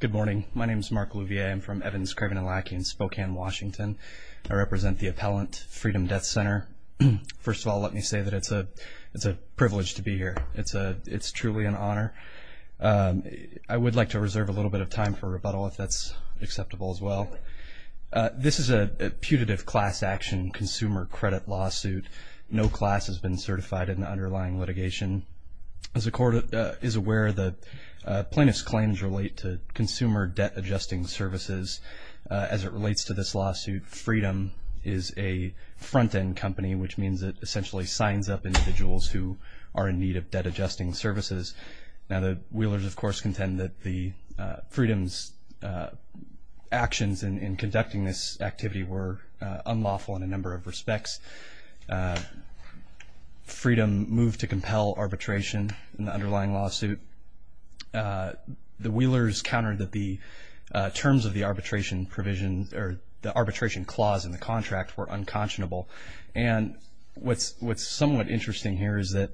Good morning. My name is Mark Louvier. I'm from Evans, Craven, and Lackey in Spokane, Washington. I represent the appellant Freedom Death Center. First of all, let me say that it's a privilege to be here. It's truly an honor. I would like to reserve a little bit of time for rebuttal if that's acceptable as well. This is a putative class action consumer credit lawsuit. No class has been certified in the underlying litigation. As the court is aware, the plaintiff's claims relate to consumer debt-adjusting services. As it relates to this lawsuit, Freedom is a front-end company, which means it essentially signs up individuals who are in need of debt-adjusting services. Now, the Wheelers, of course, contend that Freedom's actions in conducting this activity were unlawful in a number of respects. Freedom moved to compel arbitration in the underlying lawsuit. The Wheelers countered that the terms of the arbitration provision or the arbitration clause in the contract were unconscionable. And what's somewhat interesting here is that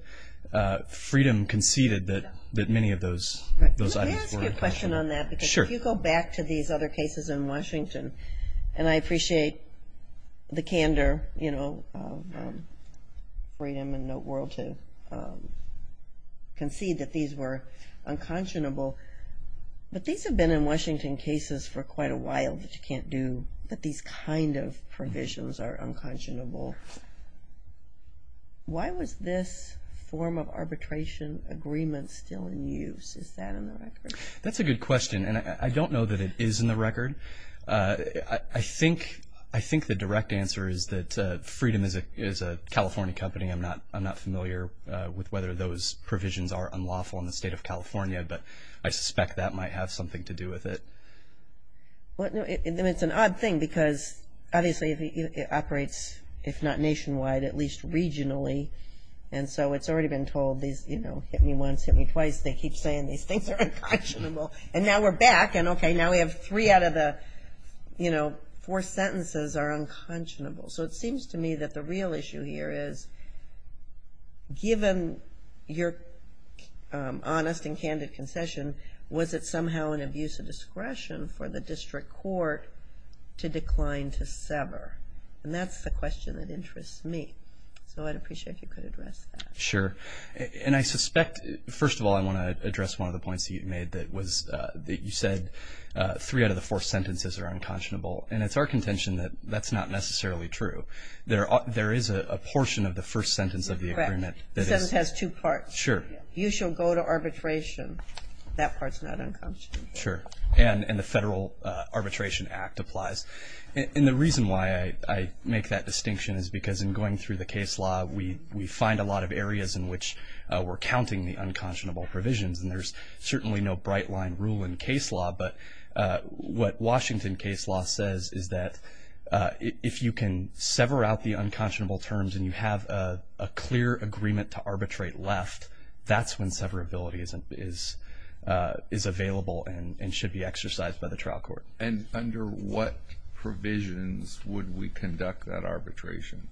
Freedom conceded that many of those items were unconscionable. Can I ask you a question on that? Sure. If you go back to these other cases in Washington, and I appreciate the candor of Freedom and Noteworld to concede that these were unconscionable, but these have been in Washington cases for quite a while that you can't do, that these kind of provisions are unconscionable. Why was this form of arbitration agreement still in use? Is that in the record? That's a good question, and I don't know that it is in the record. I think the direct answer is that Freedom is a California company. I'm not familiar with whether those provisions are unlawful in the state of California, but I suspect that might have something to do with it. It's an odd thing because, obviously, it operates, if not nationwide, at least regionally, and so it's already been told, you know, hit me once, hit me twice. They keep saying these things are unconscionable, and now we're back, and okay, now we have three out of the, you know, four sentences are unconscionable. So it seems to me that the real issue here is, given your honest and candid concession, was it somehow an abuse of discretion for the district court to decline to sever? And that's the question that interests me. So I'd appreciate if you could address that. Sure. And I suspect, first of all, I want to address one of the points that you made, that was that you said three out of the four sentences are unconscionable, and it's our contention that that's not necessarily true. There is a portion of the first sentence of the agreement. Correct. The sentence has two parts. Sure. You shall go to arbitration. That part's not unconscionable. Sure. And the Federal Arbitration Act applies. And the reason why I make that distinction is because in going through the case law, we find a lot of areas in which we're counting the unconscionable provisions, and there's certainly no bright-line rule in case law. But what Washington case law says is that if you can sever out the unconscionable terms and you have a clear agreement to arbitrate left, that's when severability is available and should be exercised by the trial court. And under what provisions would we conduct that arbitration?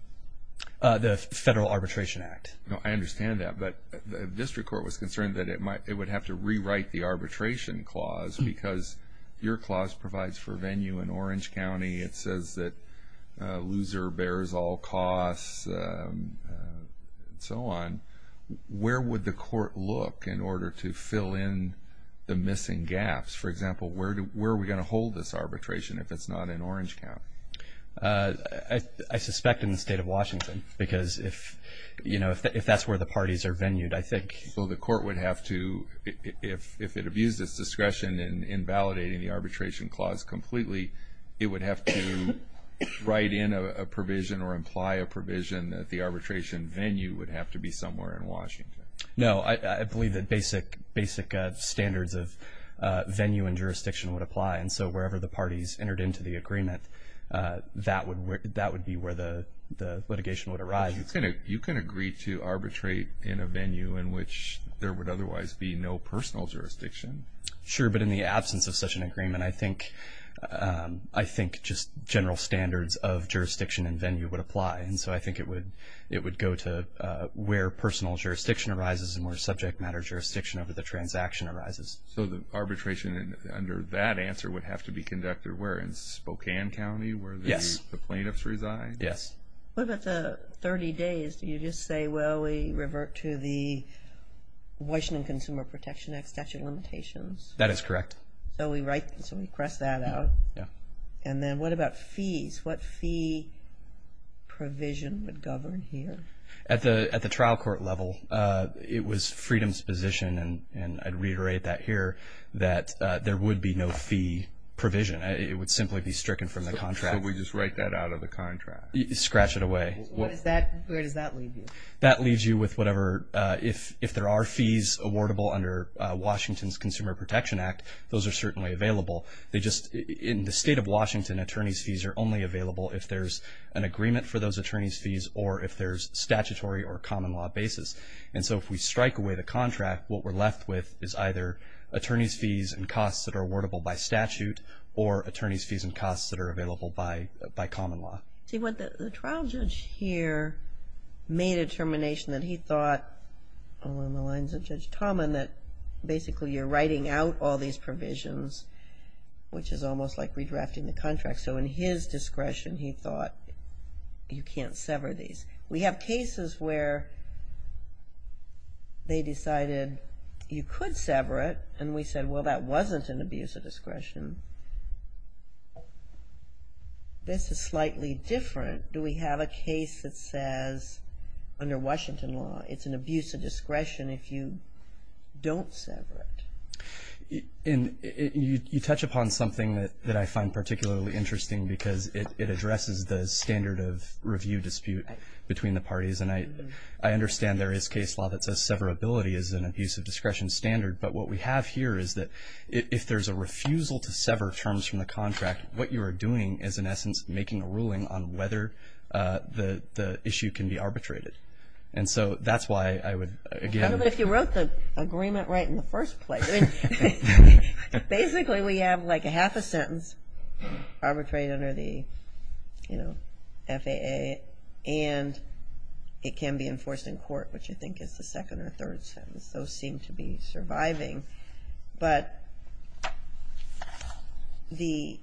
The Federal Arbitration Act. I understand that, but the district court was concerned that it would have to rewrite the arbitration clause because your clause provides for venue in Orange County. It says that a loser bears all costs and so on. Where would the court look in order to fill in the missing gaps? For example, where are we going to hold this arbitration if it's not in Orange County? I suspect in the state of Washington because if that's where the parties are venued, I think. So the court would have to, if it abused its discretion in validating the arbitration clause completely, it would have to write in a provision or imply a provision that the arbitration venue would have to be somewhere in Washington. No, I believe that basic standards of venue and jurisdiction would apply. And so wherever the parties entered into the agreement, that would be where the litigation would arise. You can agree to arbitrate in a venue in which there would otherwise be no personal jurisdiction. Sure, but in the absence of such an agreement, I think just general standards of jurisdiction and venue would apply. And so I think it would go to where personal jurisdiction arises and where subject matter jurisdiction over the transaction arises. So the arbitration under that answer would have to be conducted where, in Spokane County? Yes. Where the plaintiffs reside? Yes. What about the 30 days? Do you just say, well, we revert to the Washington Consumer Protection Act statute limitations? That is correct. So we write, so we press that out? Yeah. And then what about fees? What fee provision would govern here? At the trial court level, it was freedom's position, and I'd reiterate that here, that there would be no fee provision. It would simply be stricken from the contract. So we just write that out of the contract? Scratch it away. Where does that leave you? That leaves you with whatever, if there are fees awardable under Washington's Consumer Protection Act, those are certainly available. They just, in the state of Washington, attorney's fees are only available if there's an agreement for those attorney's fees or if there's statutory or common law basis. And so if we strike away the contract, what we're left with is either attorney's fees and costs that are awardable by statute or attorney's fees and costs that are available by common law. See, the trial judge here made a determination that he thought, along the lines of Judge Tomlin, that basically you're writing out all these provisions, which is almost like redrafting the contract. So in his discretion, he thought, you can't sever these. We have cases where they decided you could sever it, and we said, well, that wasn't an abuse of discretion. This is slightly different. Do we have a case that says, under Washington law, it's an abuse of discretion if you don't sever it? You touch upon something that I find particularly interesting because it addresses the standard of review dispute between the parties, and I understand there is case law that says severability is an abuse of discretion standard. But what we have here is that if there's a refusal to sever terms from the contract, what you are doing is, in essence, making a ruling on whether the issue can be arbitrated. And so that's why I would, again ---- But if you wrote the agreement right in the first place, basically we have like a half a sentence arbitrated under the FAA, and it can be enforced in court, which I think is the second or third sentence. Those seem to be surviving. But we're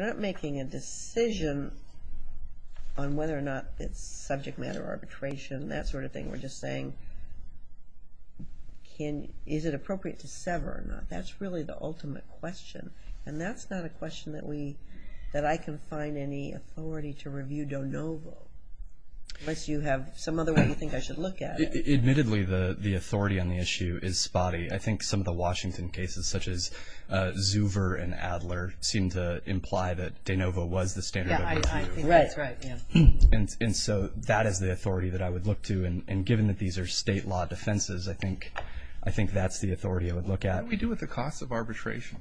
not making a decision on whether or not it's subject matter arbitration, that sort of thing. We're just saying, is it appropriate to sever or not? That's really the ultimate question, and that's not a question that I can find any authority to review de novo unless you have some other way you think I should look at it. Admittedly, the authority on the issue is spotty. I think some of the Washington cases, such as Zuver and Adler, seem to imply that de novo was the standard of review. Yeah, I think that's right. And so that is the authority that I would look to. And given that these are state law defenses, I think that's the authority I would look at. What do we do with the cost of arbitration?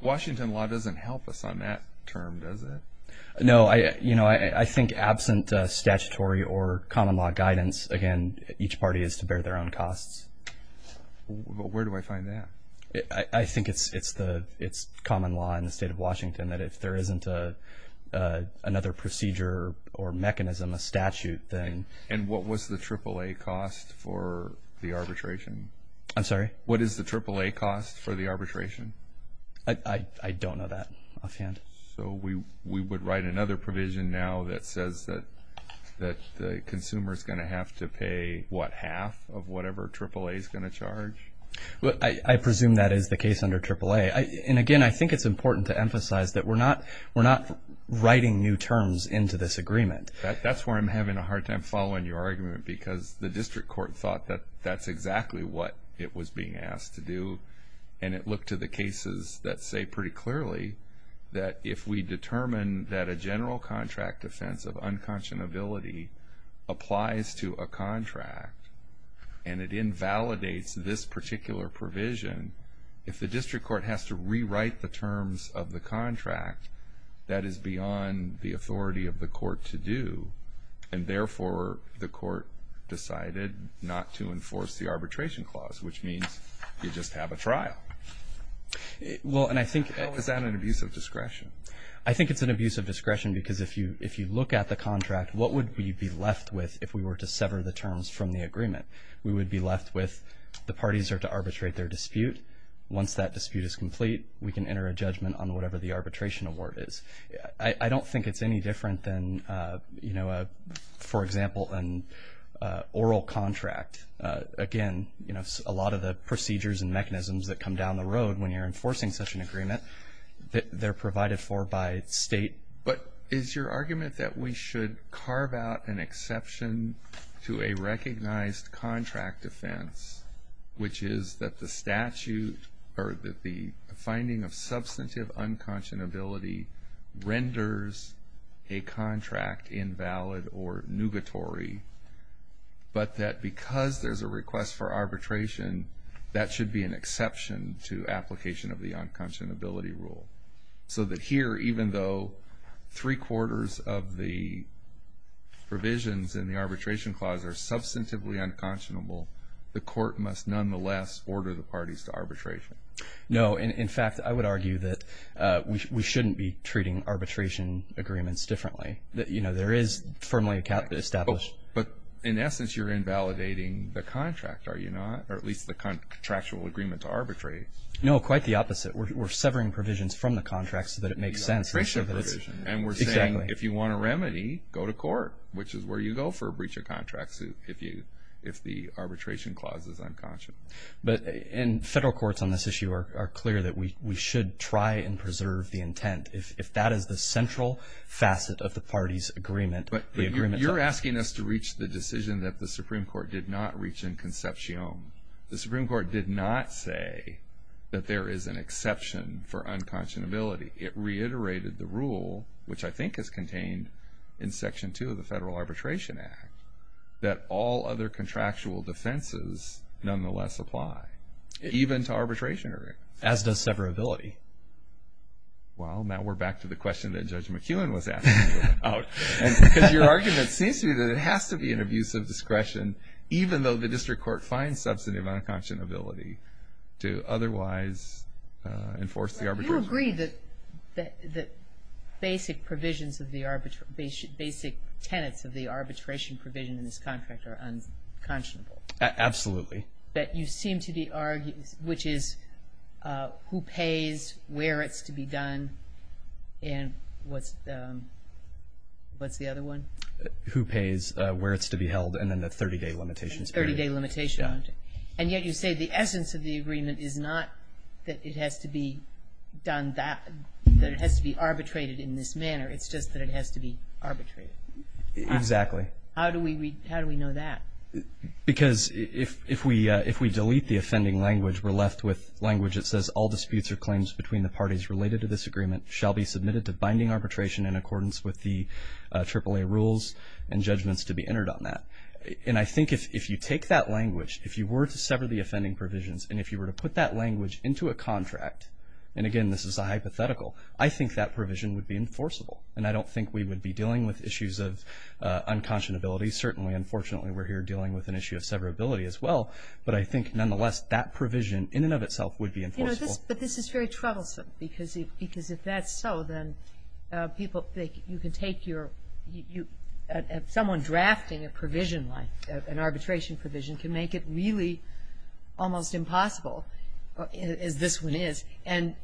Washington law doesn't help us on that term, does it? No. I think absent statutory or common law guidance, again, each party is to bear their own costs. I think it's common law in the state of Washington that if there isn't another procedure or mechanism, a statute, then... And what was the AAA cost for the arbitration? I'm sorry? What is the AAA cost for the arbitration? I don't know that offhand. So we would write another provision now that says that the consumer is going to have to pay, what, half of whatever AAA is going to charge? I presume that is the case under AAA. Okay. And again, I think it's important to emphasize that we're not writing new terms into this agreement. That's where I'm having a hard time following your argument because the district court thought that that's exactly what it was being asked to do. And it looked to the cases that say pretty clearly that if we determine that a general contract defense of unconscionability applies to a contract and it invalidates this particular provision, if the district court has to rewrite the terms of the contract, that is beyond the authority of the court to do, and therefore the court decided not to enforce the arbitration clause, which means you just have a trial. Well, and I think... Oh, is that an abuse of discretion? I think it's an abuse of discretion because if you look at the contract, what would we be left with if we were to sever the terms from the agreement? We would be left with the parties are to arbitrate their dispute. Once that dispute is complete, we can enter a judgment on whatever the arbitration award is. I don't think it's any different than, you know, for example, an oral contract. Again, you know, a lot of the procedures and mechanisms that come down the road when you're enforcing such an agreement, they're provided for by state. But is your argument that we should carve out an exception to a recognized contract defense, which is that the statute or that the finding of substantive unconscionability renders a contract invalid or nugatory, but that because there's a request for arbitration, that should be an exception to application of the unconscionability rule? So that here, even though three-quarters of the provisions in the arbitration clause are substantively unconscionable, the court must nonetheless order the parties to arbitration? No. In fact, I would argue that we shouldn't be treating arbitration agreements differently. You know, there is firmly established. But in essence, you're invalidating the contract, are you not, or at least the contractual agreement to arbitrate? No, quite the opposite. We're severing provisions from the contract so that it makes sense. The arbitration provision. Exactly. And we're saying, if you want a remedy, go to court, which is where you go for a breach of contract if the arbitration clause is unconscionable. And federal courts on this issue are clear that we should try and preserve the intent. If that is the central facet of the parties' agreement, the agreement's up to us. But you're asking us to reach the decision that the Supreme Court did not reach in concepcion. No. The Supreme Court did not say that there is an exception for unconscionability. It reiterated the rule, which I think is contained in Section 2 of the Federal Arbitration Act, that all other contractual defenses nonetheless apply, even to arbitration agreements. As does severability. Well, now we're back to the question that Judge McKeown was asking. Because your argument seems to me that it has to be an abuse of discretion, even though the district court finds substantive unconscionability, to otherwise enforce the arbitration. Do you agree that basic provisions of the arbitration, basic tenets of the arbitration provision in this contract are unconscionable? Absolutely. That you seem to be arguing, which is who pays, where it's to be done, and what's the other one? Who pays, where it's to be held, and then the 30-day limitations period. And yet you say the essence of the agreement is not that it has to be done that, that it has to be arbitrated in this manner. It's just that it has to be arbitrated. Exactly. How do we know that? Because if we delete the offending language, we're left with language that says, all disputes or claims between the parties related to this agreement shall be submitted to binding arbitration in accordance with the AAA rules and judgments to be entered on that. And I think if you take that language, if you were to sever the offending provisions, and if you were to put that language into a contract, and again, this is a hypothetical, I think that provision would be enforceable. And I don't think we would be dealing with issues of unconscionability. Certainly, unfortunately, we're here dealing with an issue of severability as well. But I think, nonetheless, that provision in and of itself would be enforceable. But this is very troublesome, because if that's so, then people, you can take your, someone drafting a provision like an arbitration provision can make it really almost impossible, as this one is, and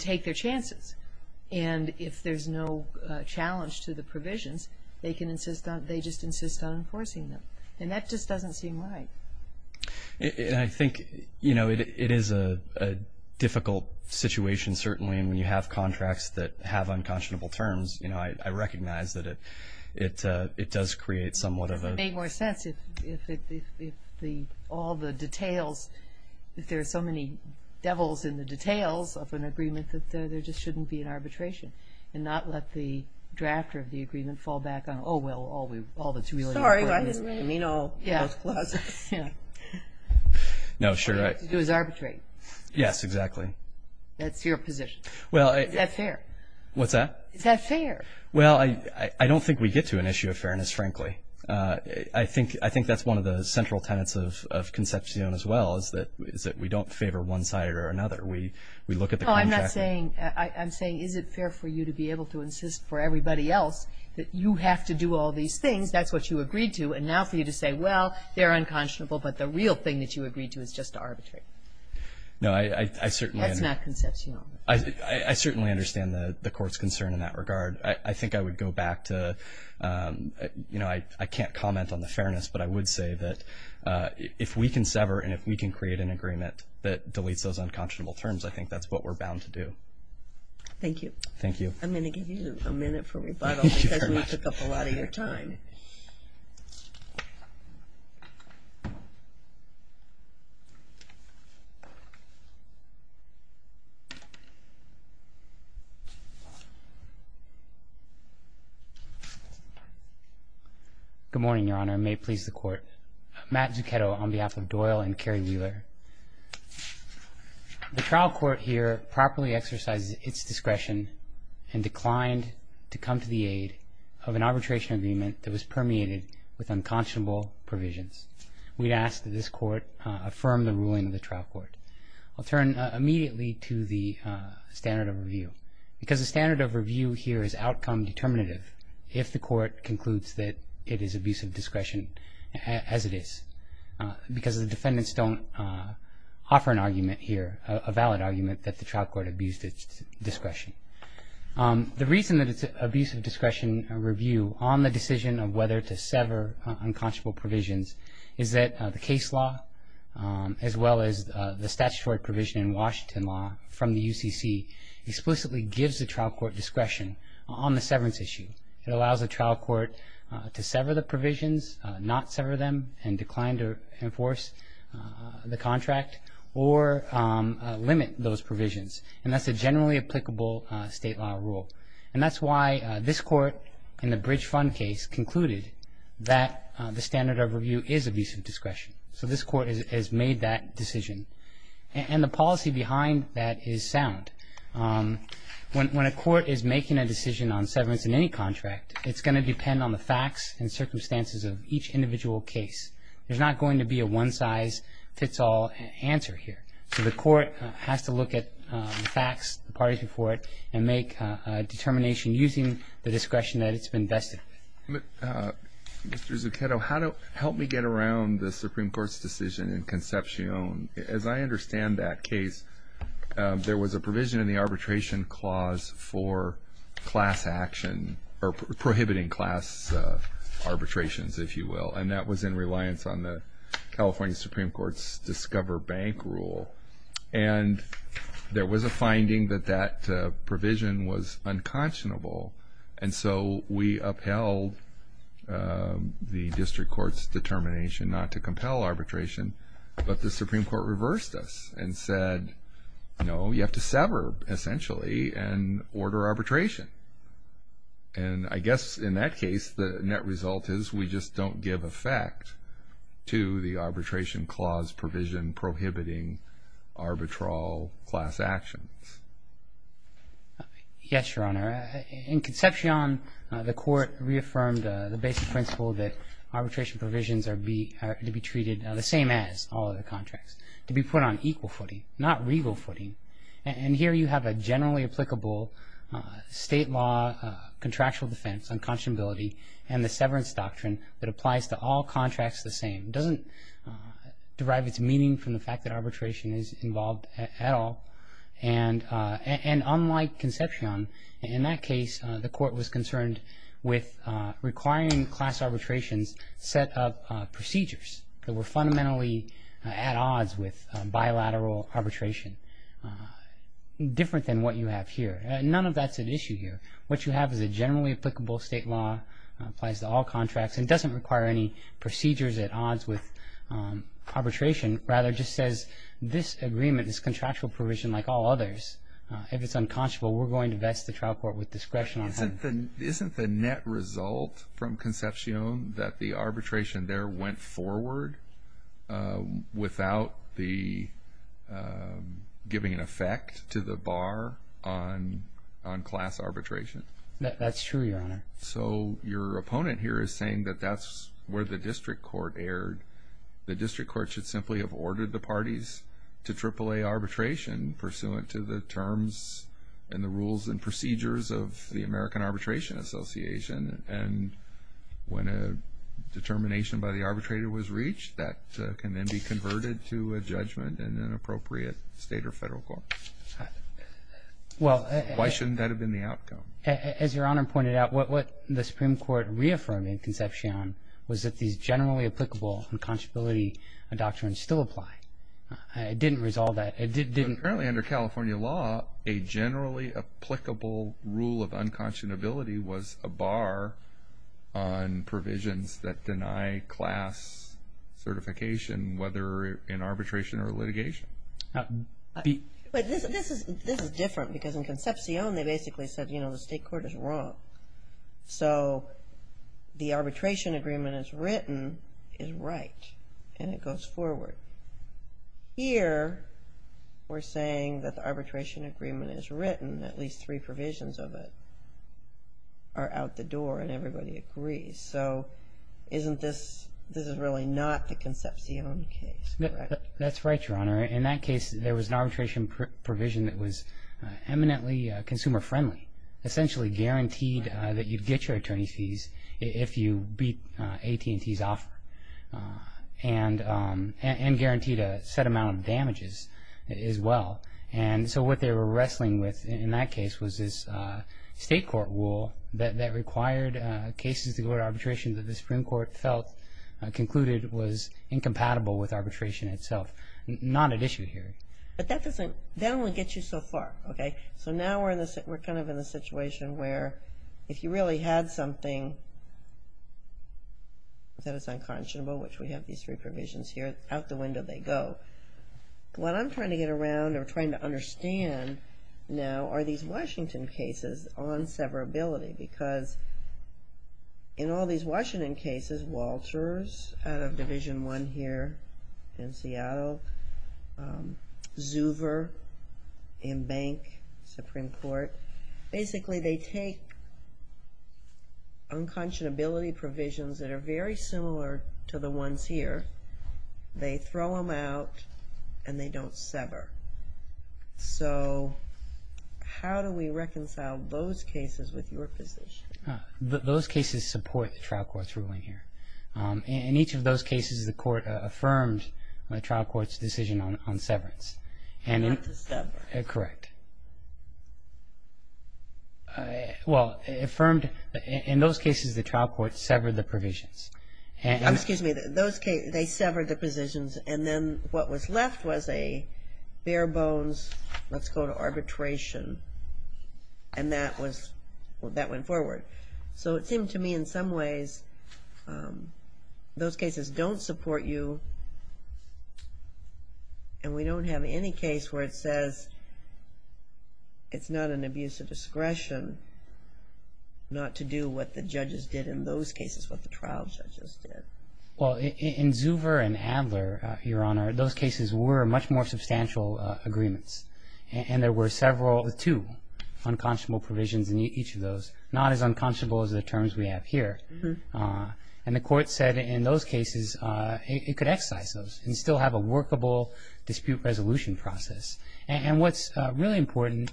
take their chances. And if there's no challenge to the provisions, they can insist on, they just insist on enforcing them. And that just doesn't seem right. And I think, you know, it is a difficult situation, certainly, and when you have contracts that have unconscionable terms, you know, I recognize that it does create somewhat of a. It would make more sense if all the details, if there are so many devils in the details of an agreement, that there just shouldn't be an arbitration, and not let the drafter of the agreement fall back on, oh, well, all that's really important is, you know, those clauses. No, sure. All you have to do is arbitrate. Yes, exactly. That's your position. Is that fair? What's that? Is that fair? Well, I don't think we get to an issue of fairness, frankly. I think that's one of the central tenets of Concepcion as well, is that we don't favor one side or another. We look at the contract. I'm saying is it fair for you to be able to insist for everybody else that you have to do all these things, that's what you agreed to, and now for you to say, well, they're unconscionable, but the real thing that you agreed to is just arbitrary. No, I certainly understand. That's not Concepcion. I certainly understand the Court's concern in that regard. I think I would go back to, you know, I can't comment on the fairness, but I would say that if we can sever and if we can create an agreement that deletes those unconscionable terms, I think that's what we're bound to do. Thank you. Thank you. I'm going to give you a minute for rebuttal because we took up a lot of your time. Good morning, Your Honor. May it please the Court. Matt Zuchetto on behalf of Doyle and Kerry Wheeler. The trial court here properly exercises its discretion and declined to come to the aid of an arbitration agreement that was permeated with unconscionable provisions. We ask that this Court affirm the ruling of the trial court. I'll turn immediately to the standard of review because the standard of review here is outcome determinative if the Court concludes that it is abuse of discretion as it is because the defendants don't offer an argument here, a valid argument that the trial court abused its discretion. The reason that it's abuse of discretion review on the decision of whether to sever unconscionable provisions is that the case law as well as the statutory provision in Washington law from the UCC explicitly gives the trial court discretion on the severance issue. It allows the trial court to sever the provisions, not sever them, and decline to enforce the contract or limit those provisions. And that's a generally applicable state law rule. And that's why this Court in the Bridge Fund case concluded that the standard of review is abuse of discretion. So this Court has made that decision. And the policy behind that is sound. When a court is making a decision on severance in any contract, it's going to depend on the facts and circumstances of each individual case. There's not going to be a one-size-fits-all answer here. So the Court has to look at the facts, the parties before it, and make a determination using the discretion that it's been vested. Mr. Zucchetto, help me get around the Supreme Court's decision in Concepcion. As I understand that case, there was a provision in the arbitration clause for class action or prohibiting class arbitrations, if you will, and that was in reliance on the California Supreme Court's Discover Bank rule. And there was a finding that that provision was unconscionable. And so we upheld the district court's determination not to compel arbitration, but the Supreme Court reversed us and said, no, you have to sever, essentially, and order arbitration. And I guess in that case, the net result is we just don't give effect to the arbitration clause provision prohibiting arbitral class actions. Yes, Your Honor. In Concepcion, the Court reaffirmed the basic principle that arbitration provisions are to be treated the same as all other contracts, to be put on equal footing, not regal footing. And here you have a generally applicable state law contractual defense on conscionability and the severance doctrine that applies to all contracts the same. It doesn't derive its meaning from the fact that arbitration is involved at all. And unlike Concepcion, in that case, the Court was concerned with requiring class arbitrations set up procedures that were fundamentally at odds with bilateral arbitration, different than what you have here. None of that's an issue here. What you have is a generally applicable state law, applies to all contracts, and doesn't require any procedures at odds with arbitration, rather just says this agreement, this contractual provision, like all others, if it's unconscionable, we're going to vest the trial court with discretion on that. Isn't the net result from Concepcion that the arbitration there went forward without giving an effect to the bar on class arbitration? That's true, Your Honor. So your opponent here is saying that that's where the district court erred. The district court should simply have ordered the parties to AAA arbitration pursuant to the terms and the rules and procedures of the American Arbitration Association. And when a determination by the arbitrator was reached, that can then be converted to a judgment in an appropriate state or federal court. Why shouldn't that have been the outcome? As Your Honor pointed out, what the Supreme Court reaffirmed in Concepcion was that these generally applicable unconscionability doctrines still apply. It didn't resolve that. Currently under California law, a generally applicable rule of unconscionability was a bar on provisions that deny class certification, whether in arbitration or litigation. This is different because in Concepcion they basically said, you know, the state court is wrong. So the arbitration agreement as written is right and it goes forward. Here we're saying that the arbitration agreement as written, at least three provisions of it, are out the door and everybody agrees. So isn't this – this is really not the Concepcion case, correct? That's right, Your Honor. In that case, there was an arbitration provision that was eminently consumer-friendly, essentially guaranteed that you'd get your attorney fees if you beat AT&T's offer and guaranteed a set amount of damages as well. And so what they were wrestling with in that case was this state court rule that required cases to go to arbitration that the Supreme Court felt concluded was incompatible with arbitration itself, not at issue here. But that doesn't – that only gets you so far, okay? So now we're kind of in a situation where if you really had something that is unconscionable, which we have these three provisions here, out the window they go. What I'm trying to get around or trying to understand now are these Washington cases on severability because in all these Washington cases, Walters out of Division I here in Seattle, Zuver in Bank, Supreme Court, basically they take unconscionability provisions that are very similar to the ones here, they throw them out, and they don't sever. So how do we reconcile those cases with your position? Those cases support the trial court's ruling here. In each of those cases the court affirmed the trial court's decision on severance. Not to sever. Correct. Well, affirmed – in those cases the trial court severed the provisions. Excuse me. In those cases they severed the provisions and then what was left was a bare bones, let's go to arbitration, and that was – that went forward. So it seemed to me in some ways those cases don't support you and we don't have any case where it says it's not an abuse of discretion not to do what the judges did in those cases, what the trial judges did. Well, in Zuver and Adler, Your Honor, those cases were much more substantial agreements and there were several – two unconscionable provisions in each of those, not as unconscionable as the terms we have here. And the court said in those cases it could excise those and still have a workable dispute resolution process. And what's really important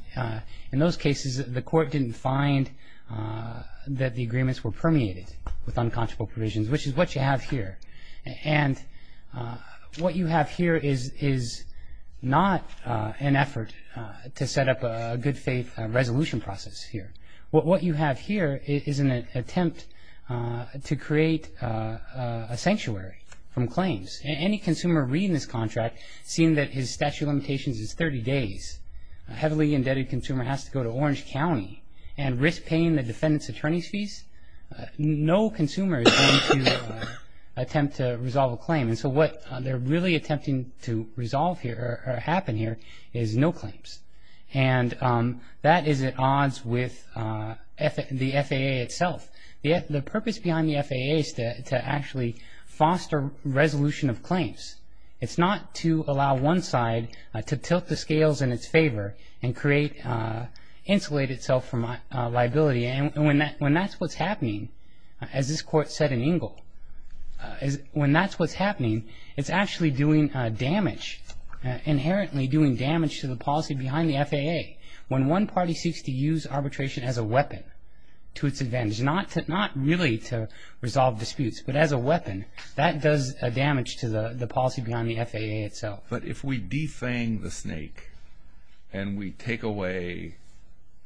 in those cases, the court didn't find that the agreements were permeated with unconscionable provisions, which is what you have here. And what you have here is not an effort to set up a good faith resolution process here. What you have here is an attempt to create a sanctuary from claims. Any consumer reading this contract, seeing that his statute of limitations is 30 days, a heavily indebted consumer has to go to Orange County and risk paying the defendant's attorney's fees, no consumer is going to attempt to resolve a claim. And so what they're really attempting to resolve here or happen here is no claims. And that is at odds with the FAA itself. The purpose behind the FAA is to actually foster resolution of claims. It's not to allow one side to tilt the scales in its favor and create – insulate itself from liability. And when that's what's happening, as this court said in Ingle, when that's what's happening, it's actually doing damage, inherently doing damage to the policy behind the FAA. When one party seeks to use arbitration as a weapon to its advantage, not really to resolve disputes, but as a weapon, that does damage to the policy behind the FAA itself. But if we defang the snake and we take away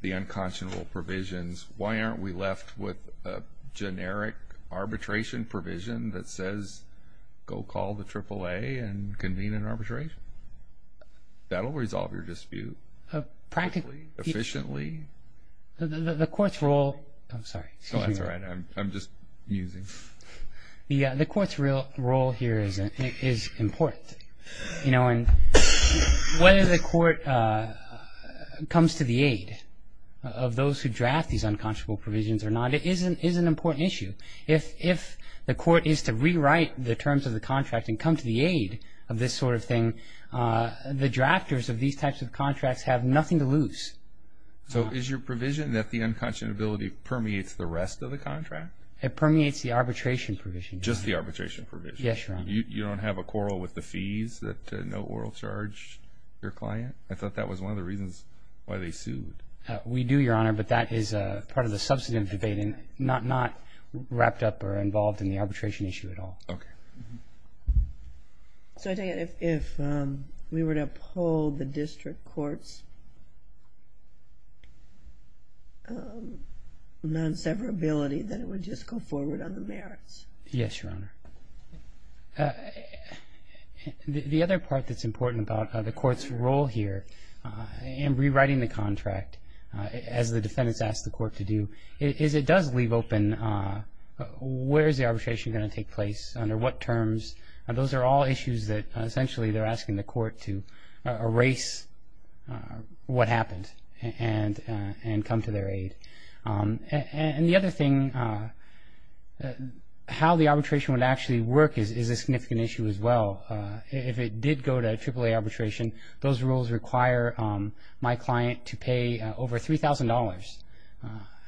the unconscionable provisions, why aren't we left with a generic arbitration provision that says, go call the AAA and convene an arbitration? That will resolve your dispute. Practically. Efficiently. The court's role – I'm sorry. That's all right. I'm just musing. The court's role here is important. Whether the court comes to the aid of those who draft these unconscionable provisions or not is an important issue. If the court is to rewrite the terms of the contract and come to the aid of this sort of thing, the drafters of these types of contracts have nothing to lose. So is your provision that the unconscionability permeates the rest of the contract? It permeates the arbitration provision. Just the arbitration provision? Yes, Your Honor. You don't have a quarrel with the fees that no oral charge your client? I thought that was one of the reasons why they sued. We do, Your Honor, but that is part of the substantive debate and not wrapped up or involved in the arbitration issue at all. Okay. So I take it if we were to uphold the district court's non-severability, then it would just go forward on the merits? Yes, Your Honor. The other part that's important about the court's role here in rewriting the contract, as the defendants ask the court to do, is it does leave open where is the arbitration going to take place under what terms, and those are all issues that essentially they're asking the court to erase what happened and come to their aid. And the other thing, how the arbitration would actually work is a significant issue as well. If it did go to AAA arbitration, those rules require my client to pay over $3,000,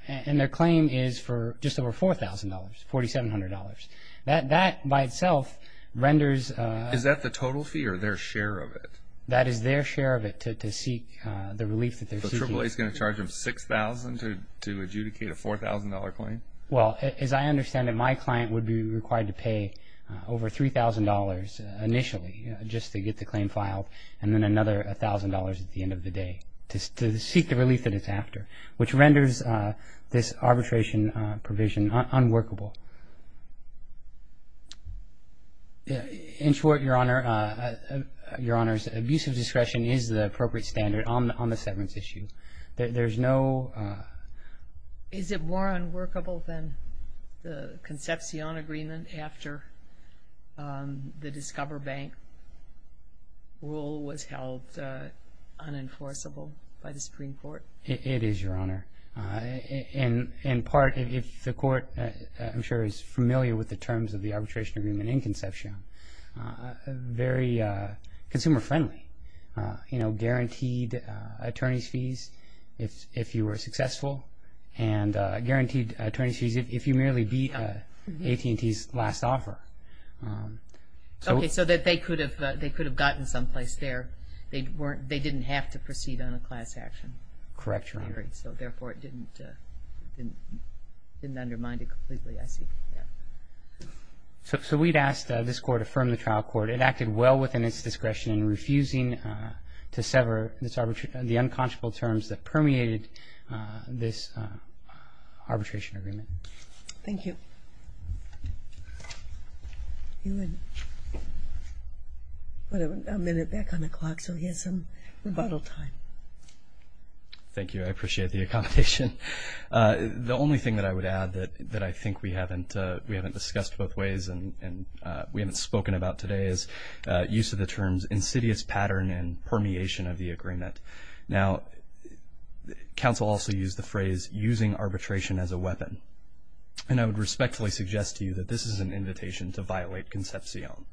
and their claim is for just over $4,000, $4,700. That by itself renders... Is that the total fee or their share of it? That is their share of it to seek the relief that they're seeking. So AAA is going to charge them $6,000 to adjudicate a $4,000 claim? Well, as I understand it, my client would be required to pay over $3,000 initially just to get the claim filed, and then another $1,000 at the end of the day to seek the relief that it's after, which renders this arbitration provision unworkable. In short, Your Honor, abusive discretion is the appropriate standard on the severance issue. There's no... Is it more unworkable than the Concepcion agreement after the Discover Bank rule was held unenforceable by the Supreme Court? It is, Your Honor. In part, if the Court, I'm sure, is familiar with the terms of the arbitration agreement in Concepcion, very consumer-friendly. Guaranteed attorney's fees if you were successful, and guaranteed attorney's fees if you merely beat AT&T's last offer. Okay, so they could have gotten someplace there. They didn't have to proceed on a class action. Correct, Your Honor. Therefore, it didn't undermine it completely, I see. So we'd asked this Court to affirm the trial court. It acted well within its discretion in refusing to sever the unconscionable terms that permeated this arbitration agreement. Thank you. You had a minute back on the clock, so we had some rebuttal time. Thank you. I appreciate the accommodation. The only thing that I would add that I think we haven't discussed both ways and we haven't spoken about today is use of the terms insidious pattern and permeation of the agreement. Now, counsel also used the phrase using arbitration as a weapon, and I would respectfully suggest to you that this is an invitation to violate Concepcion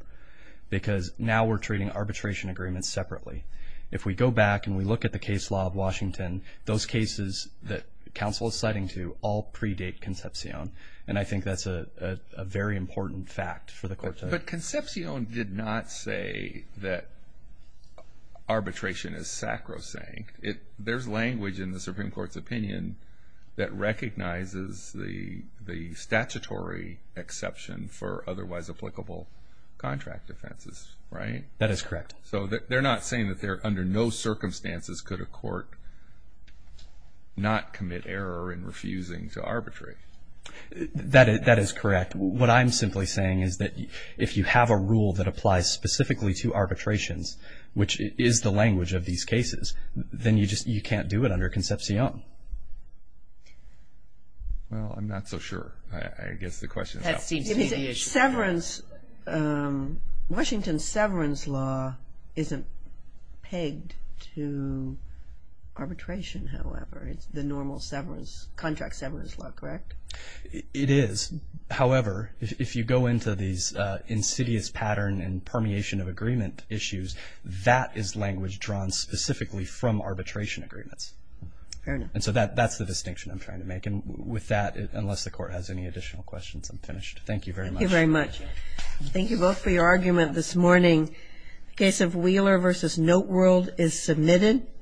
because now we're treating arbitration agreements separately. If we go back and we look at the case law of Washington, those cases that counsel is citing to all predate Concepcion, and I think that's a very important fact for the Court to know. But Concepcion did not say that arbitration is sacrosanct. There's language in the Supreme Court's opinion that recognizes the statutory exception for otherwise applicable contract offenses, right? That is correct. So they're not saying that under no circumstances could a court not commit error in refusing to arbitrate. That is correct. What I'm simply saying is that if you have a rule that applies specifically to arbitrations, which is the language of these cases, then you can't do it under Concepcion. Well, I'm not so sure. I guess the question is how. Washington's severance law isn't pegged to arbitration, however. It's the normal contract severance law, correct? It is. However, if you go into these insidious pattern and permeation of agreement issues, that is language drawn specifically from arbitration agreements. Fair enough. And so that's the distinction I'm trying to make. And with that, unless the Court has any additional questions, I'm finished. Thank you very much. Thank you very much. Thank you both for your argument this morning. The case of Wheeler v. Noteworld is submitted.